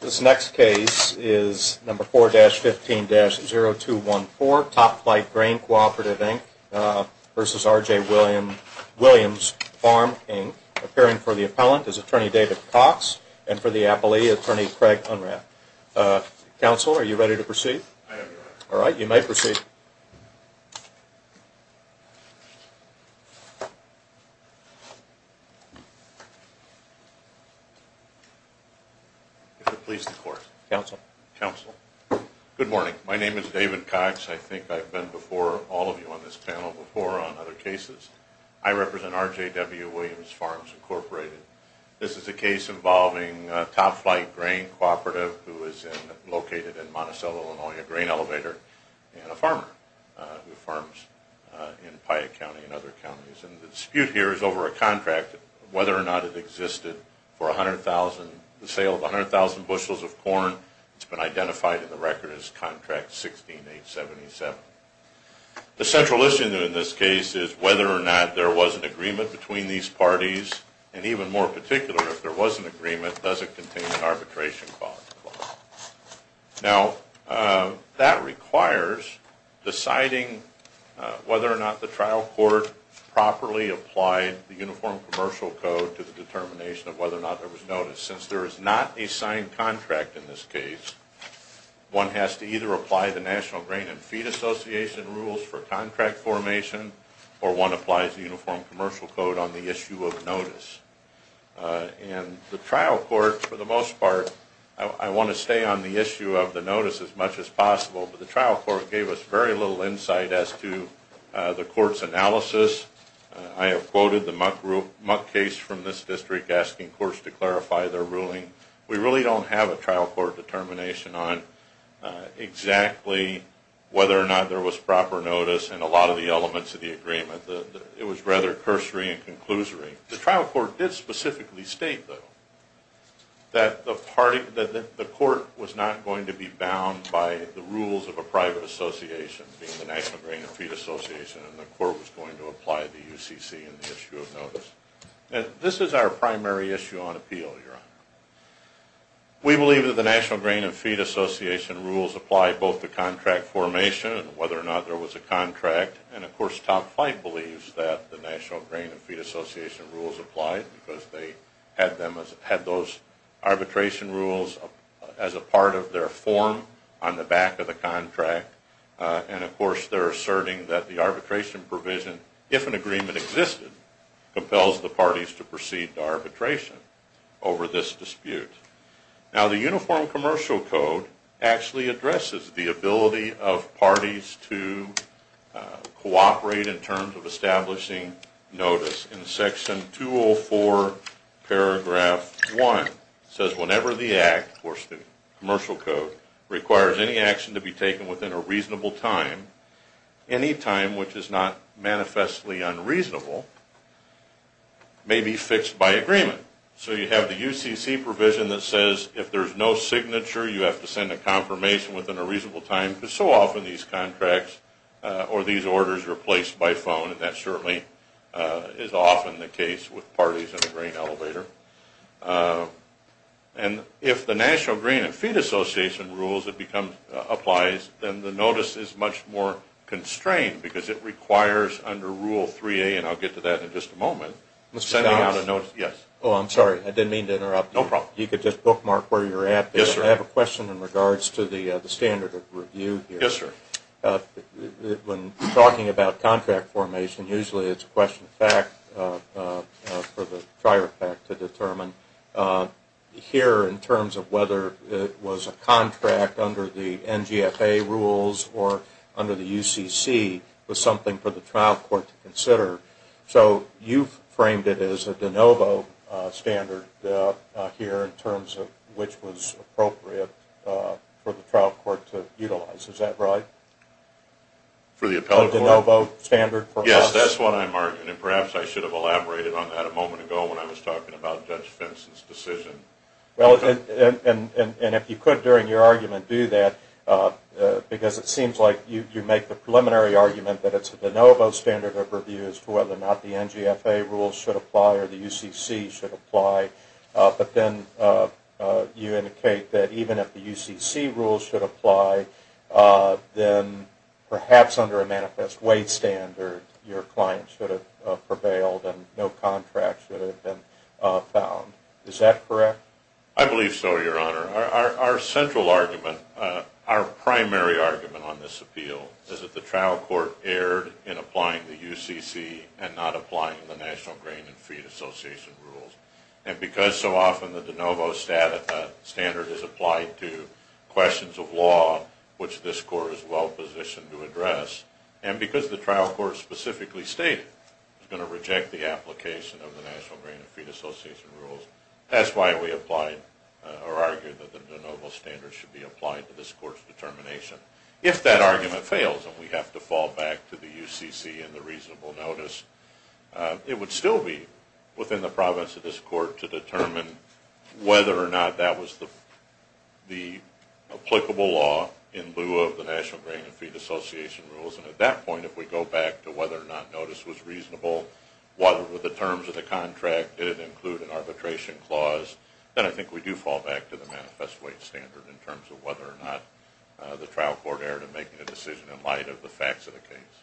This next case is number 4-15-0214, Topflight Grain Cooperative, Inc. v. RJ Williams Farm, Inc. Appearing for the appellant is Attorney David Cox and for the appellee, Attorney Craig Unrath. Counsel, are you ready to proceed? I am ready. Alright, you may proceed. Counsel. Counsel. Good morning. My name is David Cox. I think I've been before all of you on this panel before on other cases. I represent RJW Williams Farms, Inc. This is a case involving Topflight Grain Cooperative, who is located in Monticello, Illinois, a grain elevator, and a farmer who farms in Piatt County and other counties. The dispute here is over a contract, whether or not it existed for the sale of 100,000 bushels of corn. It's been identified in the record as Contract 16-877. The central issue in this case is whether or not there was an agreement between these parties, and even more particular, if there was an agreement, does it contain an arbitration clause? Now, that requires deciding whether or not the trial court properly applied the Uniform Commercial Code to the determination of whether or not there was notice. Since there is not a signed contract in this case, one has to either apply the National Grain and Feed Association rules for contract formation, or one applies the Uniform Commercial Code on the issue of notice. And the trial court, for the most part, I want to stay on the issue of the notice as much as possible, but the trial court gave us very little insight as to the court's analysis. I have quoted the muck case from this district, asking courts to clarify their ruling. We really don't have a trial court determination on exactly whether or not there was proper notice in a lot of the elements of the agreement. It was rather cursory and conclusory. The trial court did specifically state, though, that the court was not going to be bound by the rules of a private association, being the National Grain and Feed Association, and the court was going to apply the UCC in the issue of notice. This is our primary issue on appeal, Your Honor. We believe that the National Grain and Feed Association rules apply both to contract formation and whether or not there was a contract, and of course Top Flight believes that the National Grain and Feed Association rules apply because they had those arbitration rules as a part of their form on the back of the contract, and of course they're asserting that the arbitration provision, if an agreement existed, compels the parties to proceed to arbitration over this dispute. Now the Uniform Commercial Code actually addresses the ability of parties to cooperate in terms of establishing notice. In Section 204, paragraph 1, it says, Whenever the Act, of course the Commercial Code, requires any action to be taken within a reasonable time, any time which is not manifestly unreasonable, may be fixed by agreement. So you have the UCC provision that says if there's no signature, you have to send a confirmation within a reasonable time, because so often these contracts or these orders are placed by phone, and that certainly is often the case with parties in a grain elevator. And if the National Grain and Feed Association rules apply, then the notice is much more constrained because it requires under Rule 3A, and I'll get to that in just a moment, Oh, I'm sorry. I didn't mean to interrupt you. No problem. You could just bookmark where you're at there. Yes, sir. I have a question in regards to the standard of review here. Yes, sir. When talking about contract formation, usually it's a question of fact for the trier fact to determine. Here, in terms of whether it was a contract under the NGFA rules or under the UCC, was something for the trial court to consider. So you've framed it as a de novo standard here in terms of which was appropriate for the trial court to utilize. Is that right? For the appellate court? A de novo standard for us? Yes, that's what I'm arguing, and perhaps I should have elaborated on that a moment ago when I was talking about Judge Fenton's decision. And if you could, during your argument, do that, because it seems like you make the preliminary argument that it's a de novo standard of review as to whether or not the NGFA rules should apply or the UCC should apply. But then you indicate that even if the UCC rules should apply, then perhaps under a manifest weight standard your client should have prevailed and no contract should have been found. Is that correct? I believe so, Your Honor. Our central argument, our primary argument on this appeal, is that the trial court erred in applying the UCC and not applying the National Grain and Feed Association rules. And because so often the de novo standard is applied to questions of law, which this court is well positioned to address, and because the trial court specifically stated it was going to reject the application of the National Grain and Feed Association rules, that's why we applied or argued that the de novo standard should be applied to this court's determination. If that argument fails and we have to fall back to the UCC and the reasonable notice, it would still be within the province of this court to determine whether or not that was the applicable law in lieu of the National Grain and Feed Association rules. And at that point, if we go back to whether or not notice was reasonable, whether the terms of the contract did include an arbitration clause, then I think we do fall back to the manifest wage standard in terms of whether or not the trial court erred in making a decision in light of the facts of the case.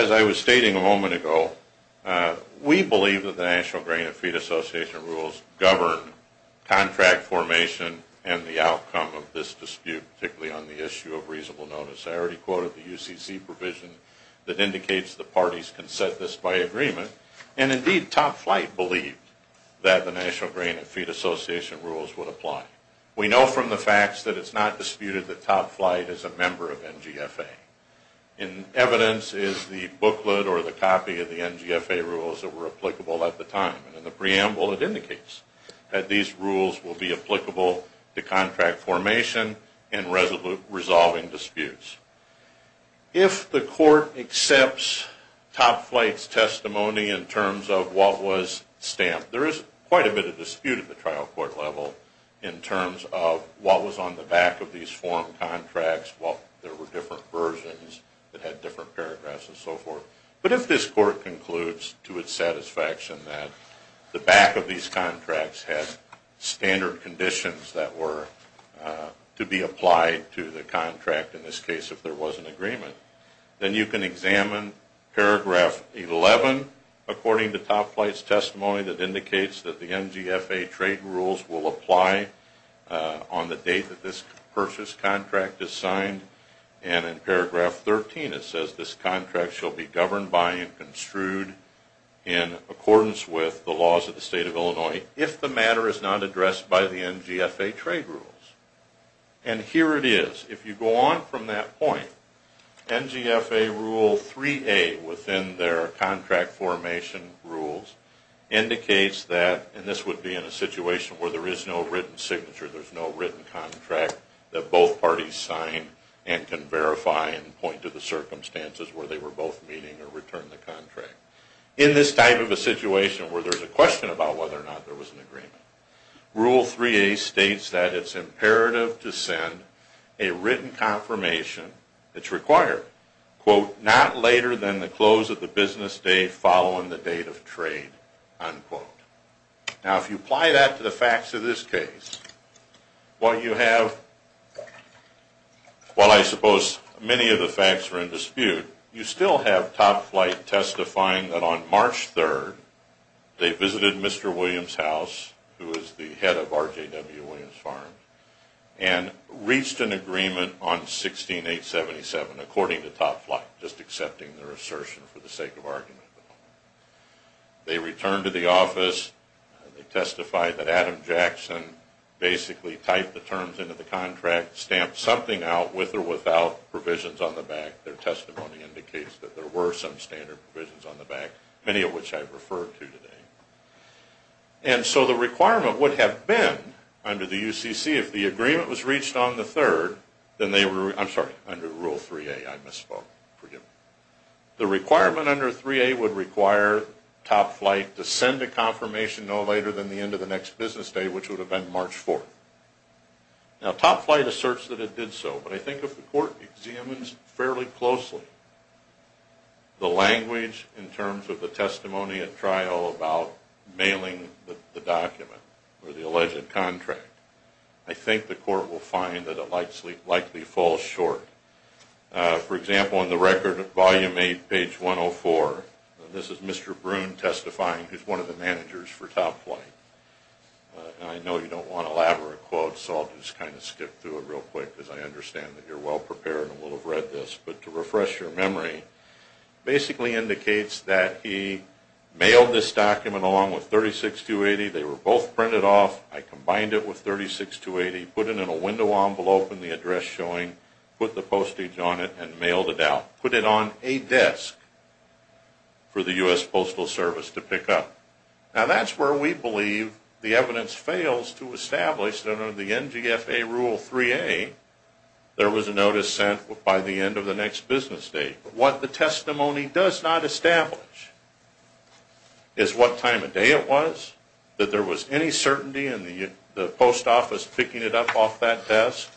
As I was stating a moment ago, we believe that the National Grain and Feed Association rules govern contract formation and the outcome of this dispute, particularly on the issue of reasonable notice. I already quoted the UCC provision that indicates the parties can set this by agreement, and indeed Top Flight believed that the National Grain and Feed Association rules would apply. We know from the facts that it's not disputed that Top Flight is a member of NGFA. In evidence is the booklet or the copy of the NGFA rules that were applicable at the time, and in the preamble it indicates that these rules will be applicable to contract formation and resolving disputes. If the court accepts Top Flight's testimony in terms of what was stamped, there is quite a bit of dispute at the trial court level in terms of what was on the back of these form contracts, what there were different versions that had different paragraphs and so forth. But if this court concludes to its satisfaction that the back of these contracts had standard conditions that were to be applied to the contract in this case if there was an agreement, then you can examine paragraph 11 according to Top Flight's testimony that indicates that the NGFA trade rules will apply on the date that this purchase contract is signed, and in paragraph 13 it says this contract shall be governed by and construed in accordance with the laws of the State of Illinois if the matter is not addressed by the NGFA trade rules. And here it is. If you go on from that point, NGFA rule 3A within their contract formation rules indicates that, and this would be in a situation where there is no written signature, there's no written contract that both parties sign and can verify and point to the circumstances where they were both meeting or returned the contract. In this type of a situation where there's a question about whether or not there was an agreement, rule 3A states that it's imperative to send a written confirmation that's required, quote, not later than the close of the business day following the date of trade, unquote. Now if you apply that to the facts of this case, what you have, while I suppose many of the facts are in dispute, you still have Top Flight testifying that on March 3rd, they visited Mr. Williams' house, who is the head of RJW Williams Farms, and reached an agreement on 16-877 according to Top Flight, just accepting their assertion for the sake of argument. They returned to the office, they testified that Adam Jackson basically typed the terms into the contract, stamped something out with or without provisions on the back. Their testimony indicates that there were some standard provisions on the back, many of which I've referred to today. And so the requirement would have been, under the UCC, if the agreement was reached on the 3rd, then they were, I'm sorry, under rule 3A, I misspoke, forgive me. The requirement under 3A would require Top Flight to send a confirmation no later than the end of the next business day, which would have been March 4th. Now Top Flight asserts that it did so, but I think if the court examines fairly closely the language in terms of the testimony at trial about mailing the document or the alleged contract, I think the court will find that it likely falls short. For example, in the record, volume 8, page 104, this is Mr. Broon testifying, who is one of the managers for Top Flight. And I know you don't want an elaborate quote, so I'll just kind of skip through it real quick, because I understand that you're well prepared and will have read this. But to refresh your memory, basically indicates that he mailed this document along with 36280, they were both printed off, I combined it with 36280, put it in a window envelope in the address showing, put the postage on it, and mailed it out. Put it on a desk for the U.S. Postal Service to pick up. Now that's where we believe the evidence fails to establish that under the NGFA Rule 3A, there was a notice sent by the end of the next business day. But what the testimony does not establish is what time of day it was, that there was any certainty in the post office picking it up off that desk.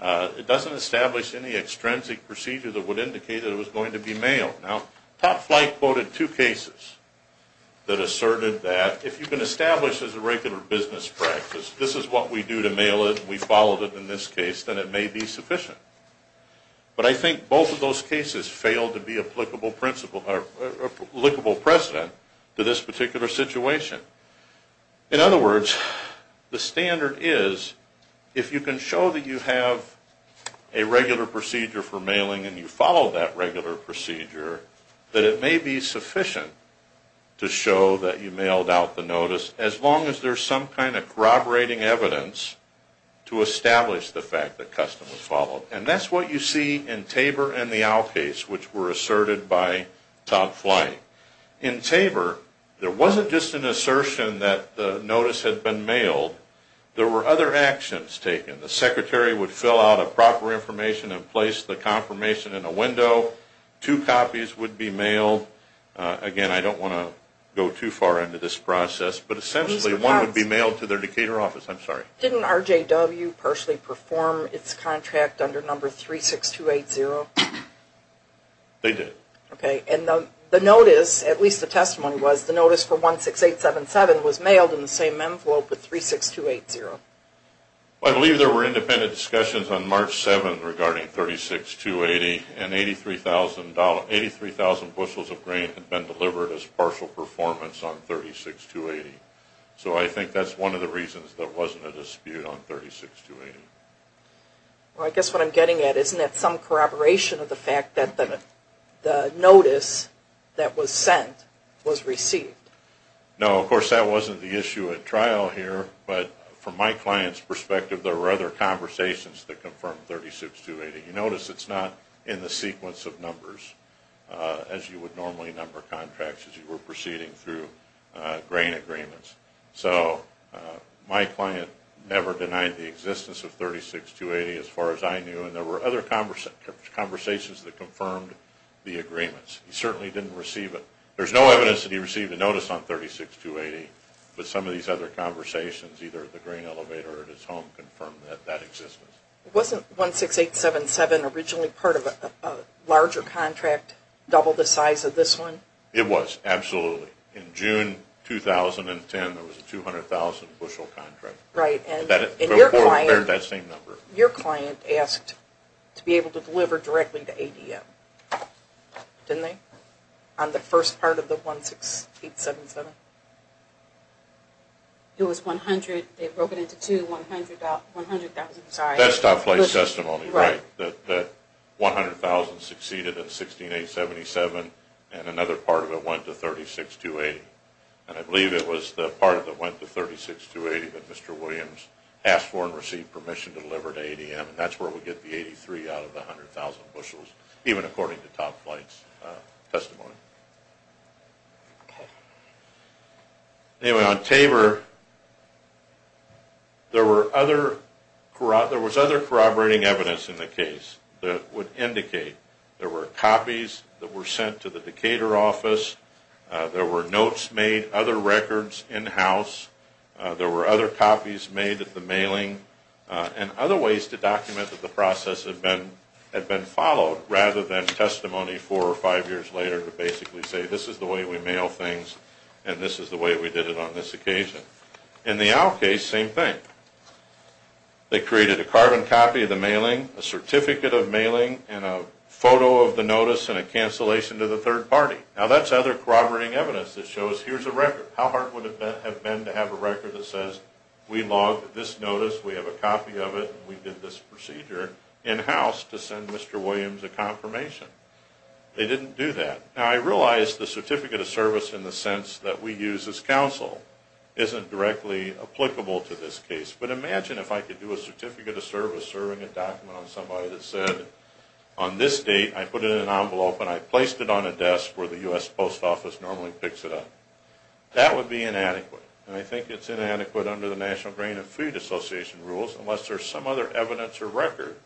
It doesn't establish any extrinsic procedure that would indicate that it was going to be mailed. Now, Top Flight quoted two cases that asserted that if you can establish as a regular business practice, this is what we do to mail it, we followed it in this case, then it may be sufficient. But I think both of those cases fail to be applicable precedent to this particular situation. In other words, the standard is, if you can show that you have a regular procedure for mailing and you follow that regular procedure, that it may be sufficient to show that you mailed out the notice, as long as there's some kind of corroborating evidence to establish the fact that custom was followed. And that's what you see in Tabor and the Owl case, which were asserted by Top Flight. In Tabor, there wasn't just an assertion that the notice had been mailed. There were other actions taken. The secretary would fill out a proper information and place the confirmation in a window. Two copies would be mailed. Again, I don't want to go too far into this process, but essentially one would be mailed to their Decatur office. I'm sorry. Didn't RJW personally perform its contract under number 36280? They did. Okay. And the notice, at least the testimony was, the notice for 16877 was mailed in the same envelope with 36280. I believe there were independent discussions on March 7 regarding 36280, and 83,000 bushels of grain had been delivered as partial performance on 36280. So I think that's one of the reasons there wasn't a dispute on 36280. Well, I guess what I'm getting at, isn't that some corroboration of the fact that the notice that was sent was received? No, of course that wasn't the issue at trial here, but from my client's perspective there were other conversations that confirmed 36280. You notice it's not in the sequence of numbers as you would normally number contracts as you were proceeding through grain agreements. So my client never denied the existence of 36280 as far as I knew, and there were other conversations that confirmed the agreements. He certainly didn't receive it. There's no evidence that he received a notice on 36280, but some of these other conversations, either at the grain elevator or at his home, confirmed that that exists. Wasn't 16877 originally part of a larger contract, double the size of this one? It was, absolutely. In June 2010 there was a 200,000 bushel contract. Right, and your client asked to be able to deliver directly to ADM, didn't they? On the first part of the 16877? It was 100, they broke it into two, 100,000. That's top flight testimony, right, that 100,000 succeeded in 16877 and another part of it went to 36280. And I believe it was the part that went to 36280 that Mr. Williams asked for and received permission to deliver to ADM, and that's where we get the 83 out of the 100,000 bushels, even according to top flight's testimony. Anyway, on Tabor, there was other corroborating evidence in the case that would indicate there were copies that were sent to the Decatur office, there were notes made, other records in-house, there were other copies made at the mailing, and other ways to document that the process had been followed rather than testimony four or five years later to basically say this is the way we mail things and this is the way we did it on this occasion. In the Owl case, same thing. They created a carbon copy of the mailing, a certificate of mailing, and a photo of the notice and a cancellation to the third party. Now that's other corroborating evidence that shows here's a record. How hard would it have been to have a record that says we logged this notice, we have a copy of it, and we did this procedure in-house to send Mr. Williams a confirmation? They didn't do that. Now I realize the certificate of service in the sense that we use as counsel isn't directly applicable to this case, but imagine if I could do a certificate of service serving a document on somebody that said on this date I put it in an envelope and I placed it on a desk where the U.S. Post Office normally picks it up. That would be inadequate, and I think it's inadequate under the National Grain and Food Association rules unless there's some other evidence or record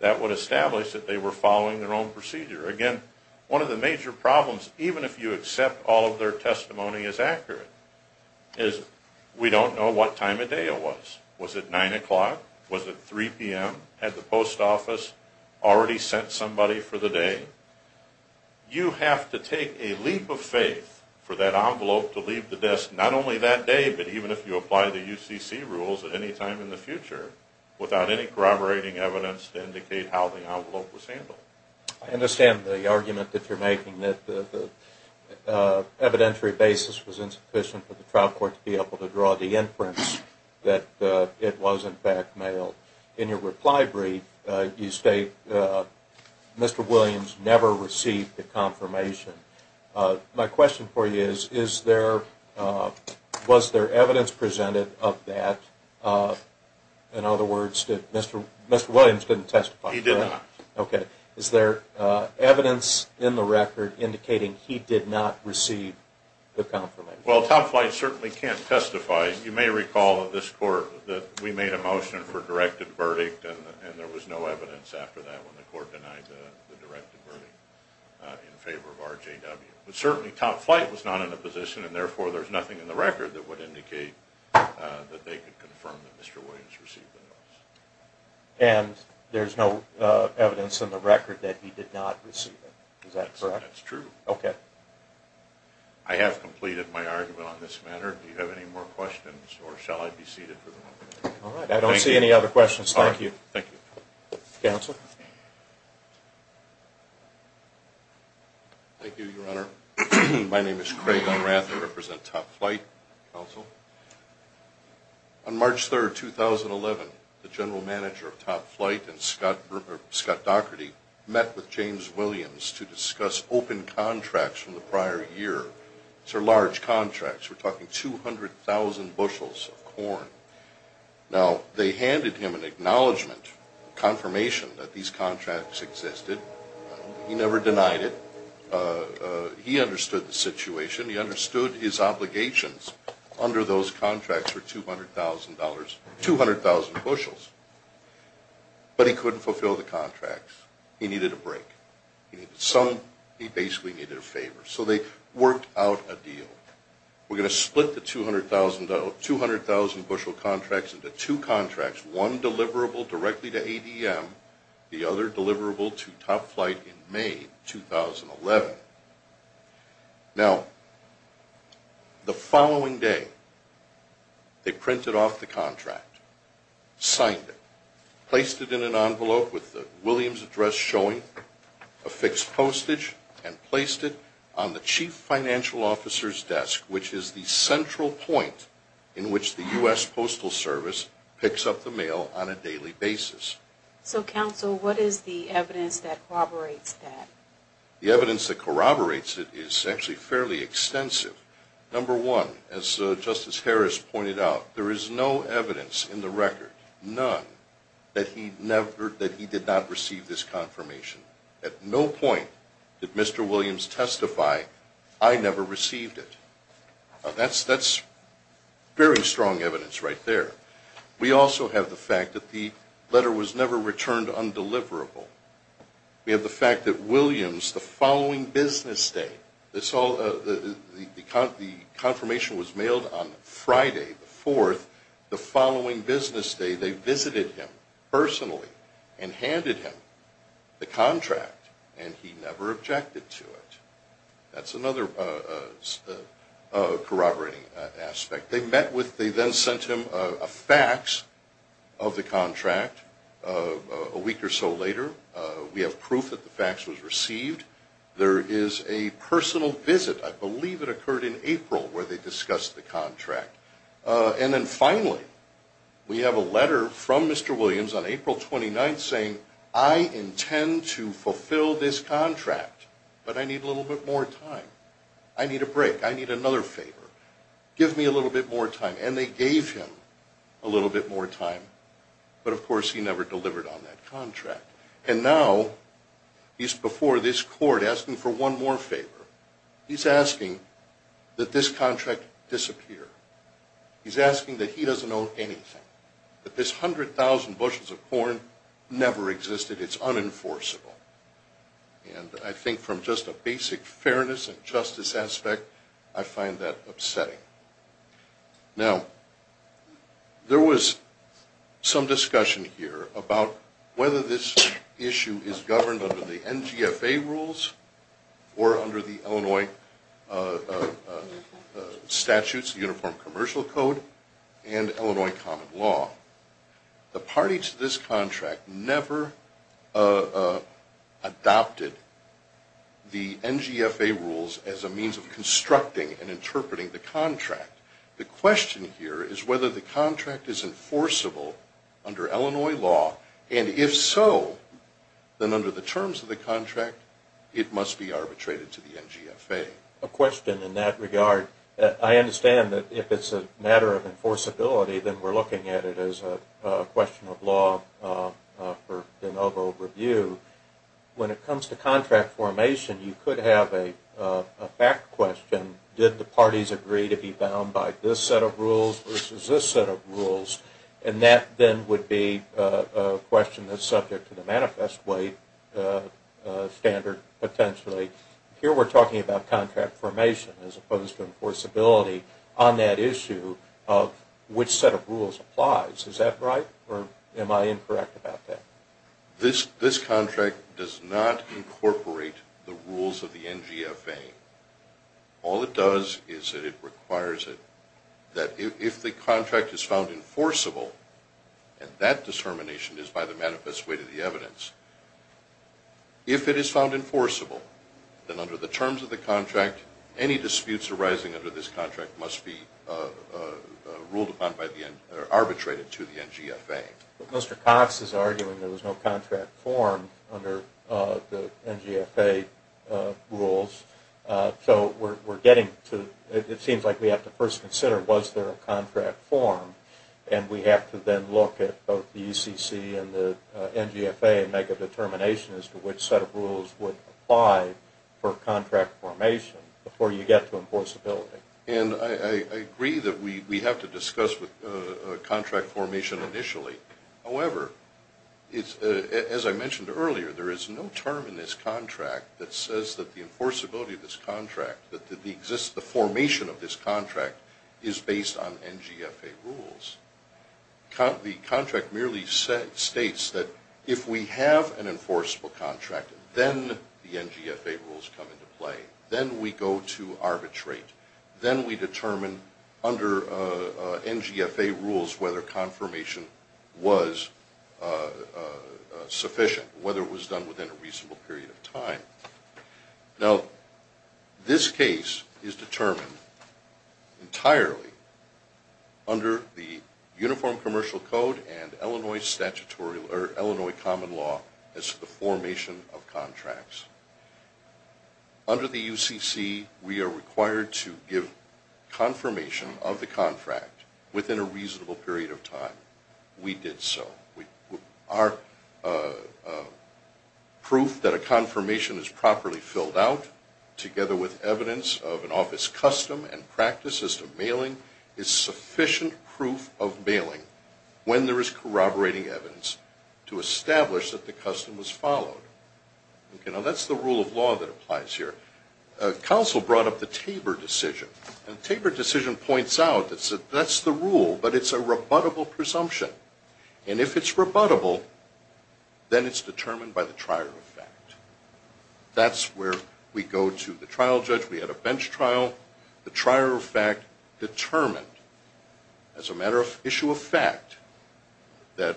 that would establish that they were following their own procedure. Again, one of the major problems, even if you accept all of their testimony as accurate, is we don't know what time of day it was. Was it 9 o'clock? Was it 3 p.m.? Had the Post Office already sent somebody for the day? You have to take a leap of faith for that envelope to leave the desk not only that day, but even if you apply the UCC rules at any time in the future without any corroborating evidence to indicate how the envelope was handled. I understand the argument that you're making that the evidentiary basis was insufficient for the trial court to be able to draw the inference that it was in fact mailed. In your reply brief, you state Mr. Williams never received the confirmation. My question for you is, was there evidence presented of that? In other words, Mr. Williams didn't testify? He did not. Okay. Is there evidence in the record indicating he did not receive the confirmation? Well, Tom Flight certainly can't testify. You may recall at this court that we made a motion for a directed verdict and there was no evidence after that when the court denied the directed verdict in favor of RJW. But certainly Tom Flight was not in a position and therefore there's nothing in the record that would indicate that they could confirm that Mr. Williams received the notice. And there's no evidence in the record that he did not receive it. Is that correct? That's true. Okay. I have completed my argument on this matter. Do you have any more questions or shall I be seated for the moment? All right. I don't see any other questions. Thank you. All right. Thank you. Counsel? Thank you, Your Honor. My name is Craig Unrath. I represent Tom Flight, counsel. On March 3, 2011, the general manager of Tom Flight, Scott Dougherty, met with James Williams to discuss open contracts from the prior year. These are large contracts. We're talking 200,000 bushels of corn. Now, they handed him an acknowledgment, confirmation that these contracts existed. He never denied it. He understood the situation. He understood his obligations under those contracts were $200,000, 200,000 bushels. But he couldn't fulfill the contracts. He needed a break. He basically needed a favor. So they worked out a deal. We're going to split the 200,000 bushel contracts into two contracts, one deliverable directly to ADM, the other deliverable to Tom Flight in May 2011. Now, the following day, they printed off the contract, signed it, placed it in an envelope with the Williams address showing, a fixed postage, and placed it on the chief financial officer's desk, which is the central point in which the U.S. Postal Service picks up the mail on a daily basis. So, counsel, what is the evidence that corroborates that? The evidence that corroborates it is actually fairly extensive. Number one, as Justice Harris pointed out, there is no evidence in the record, none, that he did not receive this confirmation. At no point did Mr. Williams testify, I never received it. Now, that's very strong evidence right there. We also have the fact that the letter was never returned undeliverable. We have the fact that Williams, the following business day, the confirmation was mailed on Friday the 4th, the following business day they visited him personally and handed him the contract, and he never objected to it. That's another corroborating aspect. They met with, they then sent him a fax of the contract a week or so later. We have proof that the fax was received. There is a personal visit, I believe it occurred in April, where they discussed the contract. And then finally, we have a letter from Mr. Williams on April 29th saying, I intend to fulfill this contract, but I need a little bit more time. I need a break. I need another favor. Give me a little bit more time. And they gave him a little bit more time. But, of course, he never delivered on that contract. And now he's before this court asking for one more favor. He's asking that this contract disappear. He's asking that he doesn't own anything, that this 100,000 bushels of corn never existed. It's unenforceable. And I think from just a basic fairness and justice aspect, I find that upsetting. Now, there was some discussion here about whether this issue is governed under the NGFA rules or under the Illinois statutes, the Uniform Commercial Code and Illinois common law. The party to this contract never adopted the NGFA rules as a means of constructing and interpreting the contract. The question here is whether the contract is enforceable under Illinois law. And if so, then under the terms of the contract, it must be arbitrated to the NGFA. A question in that regard. I understand that if it's a matter of enforceability, then we're looking at it as a question of law for an overall review. When it comes to contract formation, you could have a fact question. Did the parties agree to be bound by this set of rules versus this set of rules? And that then would be a question that's subject to the manifest weight standard, potentially. Here we're talking about contract formation as opposed to enforceability on that issue of which set of rules applies. Is that right, or am I incorrect about that? This contract does not incorporate the rules of the NGFA. All it does is that it requires that if the contract is found enforceable, if it is found enforceable, then under the terms of the contract, any disputes arising under this contract must be ruled upon or arbitrated to the NGFA. But Mr. Cox is arguing there was no contract formed under the NGFA rules, so it seems like we have to first consider was there a contract formed, and we have to then look at both the ECC and the NGFA and make a determination as to which set of rules would apply for contract formation before you get to enforceability. I agree that we have to discuss contract formation initially. However, as I mentioned earlier, there is no term in this contract that says that the enforceability of this contract, that the formation of this contract is based on NGFA rules. The contract merely states that if we have an enforceable contract, then the NGFA rules come into play. Then we go to arbitrate. Then we determine under NGFA rules whether confirmation was sufficient, whether it was done within a reasonable period of time. Now, this case is determined entirely under the Uniform Commercial Code and Illinois Common Law as to the formation of contracts. Under the UCC, we are required to give confirmation of the contract within a reasonable period of time. We did so. Our proof that a confirmation is properly filled out, together with evidence of an office custom and practice as to mailing, is sufficient proof of mailing when there is corroborating evidence to establish that the custom was followed. Now, that's the rule of law that applies here. Counsel brought up the Tabor decision. The Tabor decision points out that that's the rule, but it's a rebuttable presumption. And if it's rebuttable, then it's determined by the trier of fact. That's where we go to the trial judge. We had a bench trial. The trier of fact determined as a matter of issue of fact that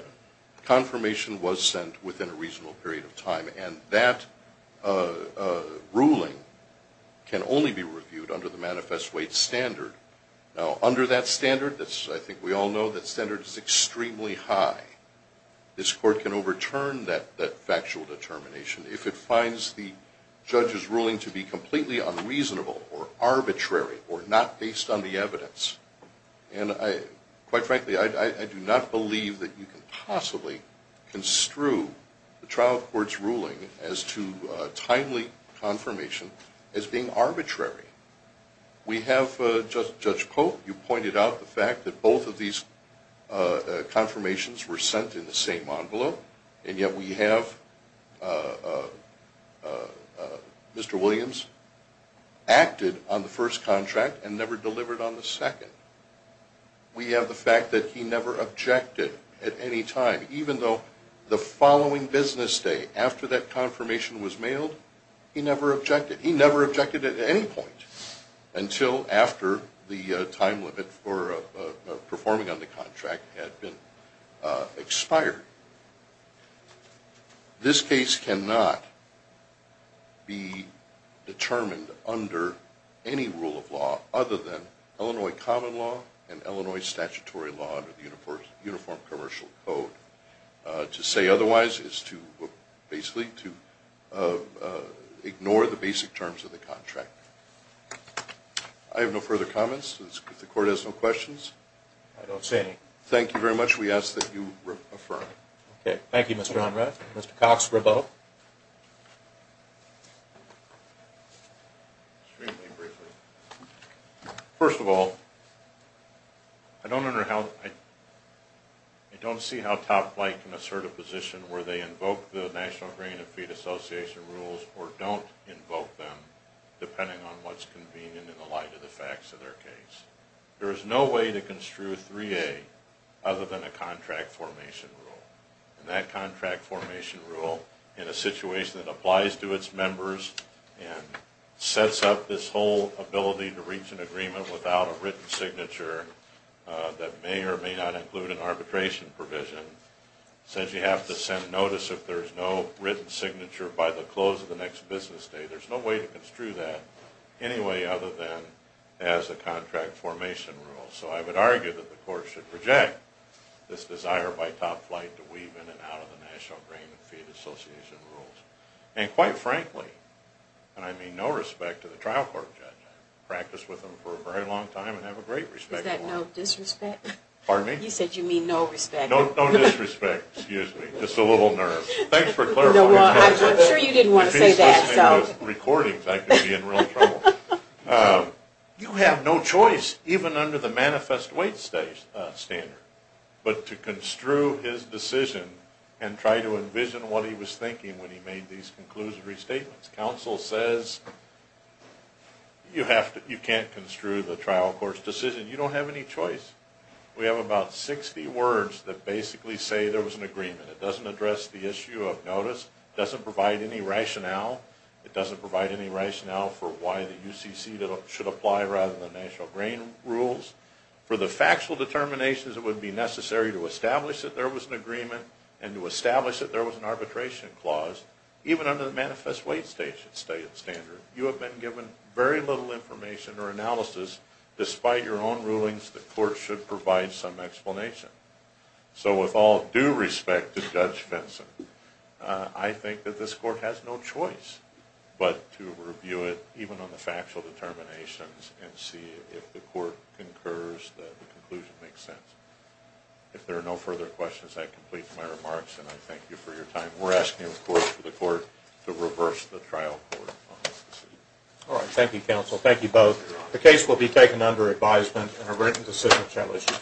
confirmation was sent within a reasonable period of time. And that ruling can only be reviewed under the manifest weight standard. Now, under that standard, I think we all know that standard is extremely high. This court can overturn that factual determination if it finds the judge's ruling to be completely unreasonable or arbitrary or not based on the evidence. And quite frankly, I do not believe that you can possibly construe the trial court's ruling as to timely confirmation as being arbitrary. We have Judge Cope. You pointed out the fact that both of these confirmations were sent in the same envelope, and yet we have Mr. Williams acted on the first contract and never delivered on the second. We have the fact that he never objected at any time, even though the following business day after that confirmation was mailed, he never objected. He never objected at any point until after the time limit for performing on the contract had been expired. This case cannot be determined under any rule of law other than Illinois common law and Illinois statutory law under the Uniform Commercial Code. To say otherwise is basically to ignore the basic terms of the contract. I have no further comments. If the court has no questions. I don't see any. Thank you very much. We ask that you affirm. Thank you, Mr. Honrad. Mr. Cox, rebuttal. Extremely briefly. First of all, I don't see how Top Flight can assert a position where they invoke the National Green and Feed Association rules or don't invoke them depending on what's convenient in the light of the facts of their case. There is no way to construe 3A other than a contract formation rule, and that contract formation rule in a situation that applies to its members and sets up this whole ability to reach an agreement without a written signature that may or may not include an arbitration provision. Since you have to send notice if there's no written signature by the close of the next business day, there's no way to construe that anyway other than as a contract formation rule. So I would argue that the court should reject this desire by Top Flight to weave in and out of the National Green and Feed Association rules. And quite frankly, and I mean no respect to the trial court judge, I've practiced with him for a very long time and have a great respect for him. Is that no disrespect? Pardon me? You said you mean no respect. No disrespect. Excuse me. Just a little nervous. Thanks for clarifying. I'm sure you didn't want to say that. If he's listening to these recordings, I could be in real trouble. You have no choice, even under the manifest weight standard, but to construe his decision and try to envision what he was thinking when he made these conclusive restatements. Counsel says you can't construe the trial court's decision. You don't have any choice. We have about 60 words that basically say there was an agreement. It doesn't address the issue of notice. It doesn't provide any rationale. It doesn't provide any rationale for why the UCC should apply rather than National Green rules. For the factual determinations, it would be necessary to establish that there was an agreement and to establish that there was an arbitration clause. Even under the manifest weight standard, you have been given very little information or analysis. Despite your own rulings, the court should provide some explanation. So with all due respect to Judge Fenson, I think that this court has no choice but to review it, even on the factual determinations, and see if the court concurs that the conclusion makes sense. If there are no further questions, I complete my remarks, and I thank you for your time. We're asking, of course, for the court to reverse the trial court on this decision. All right. Thank you, counsel. Thank you both. The case will be taken under advisement and a written decision shall issue.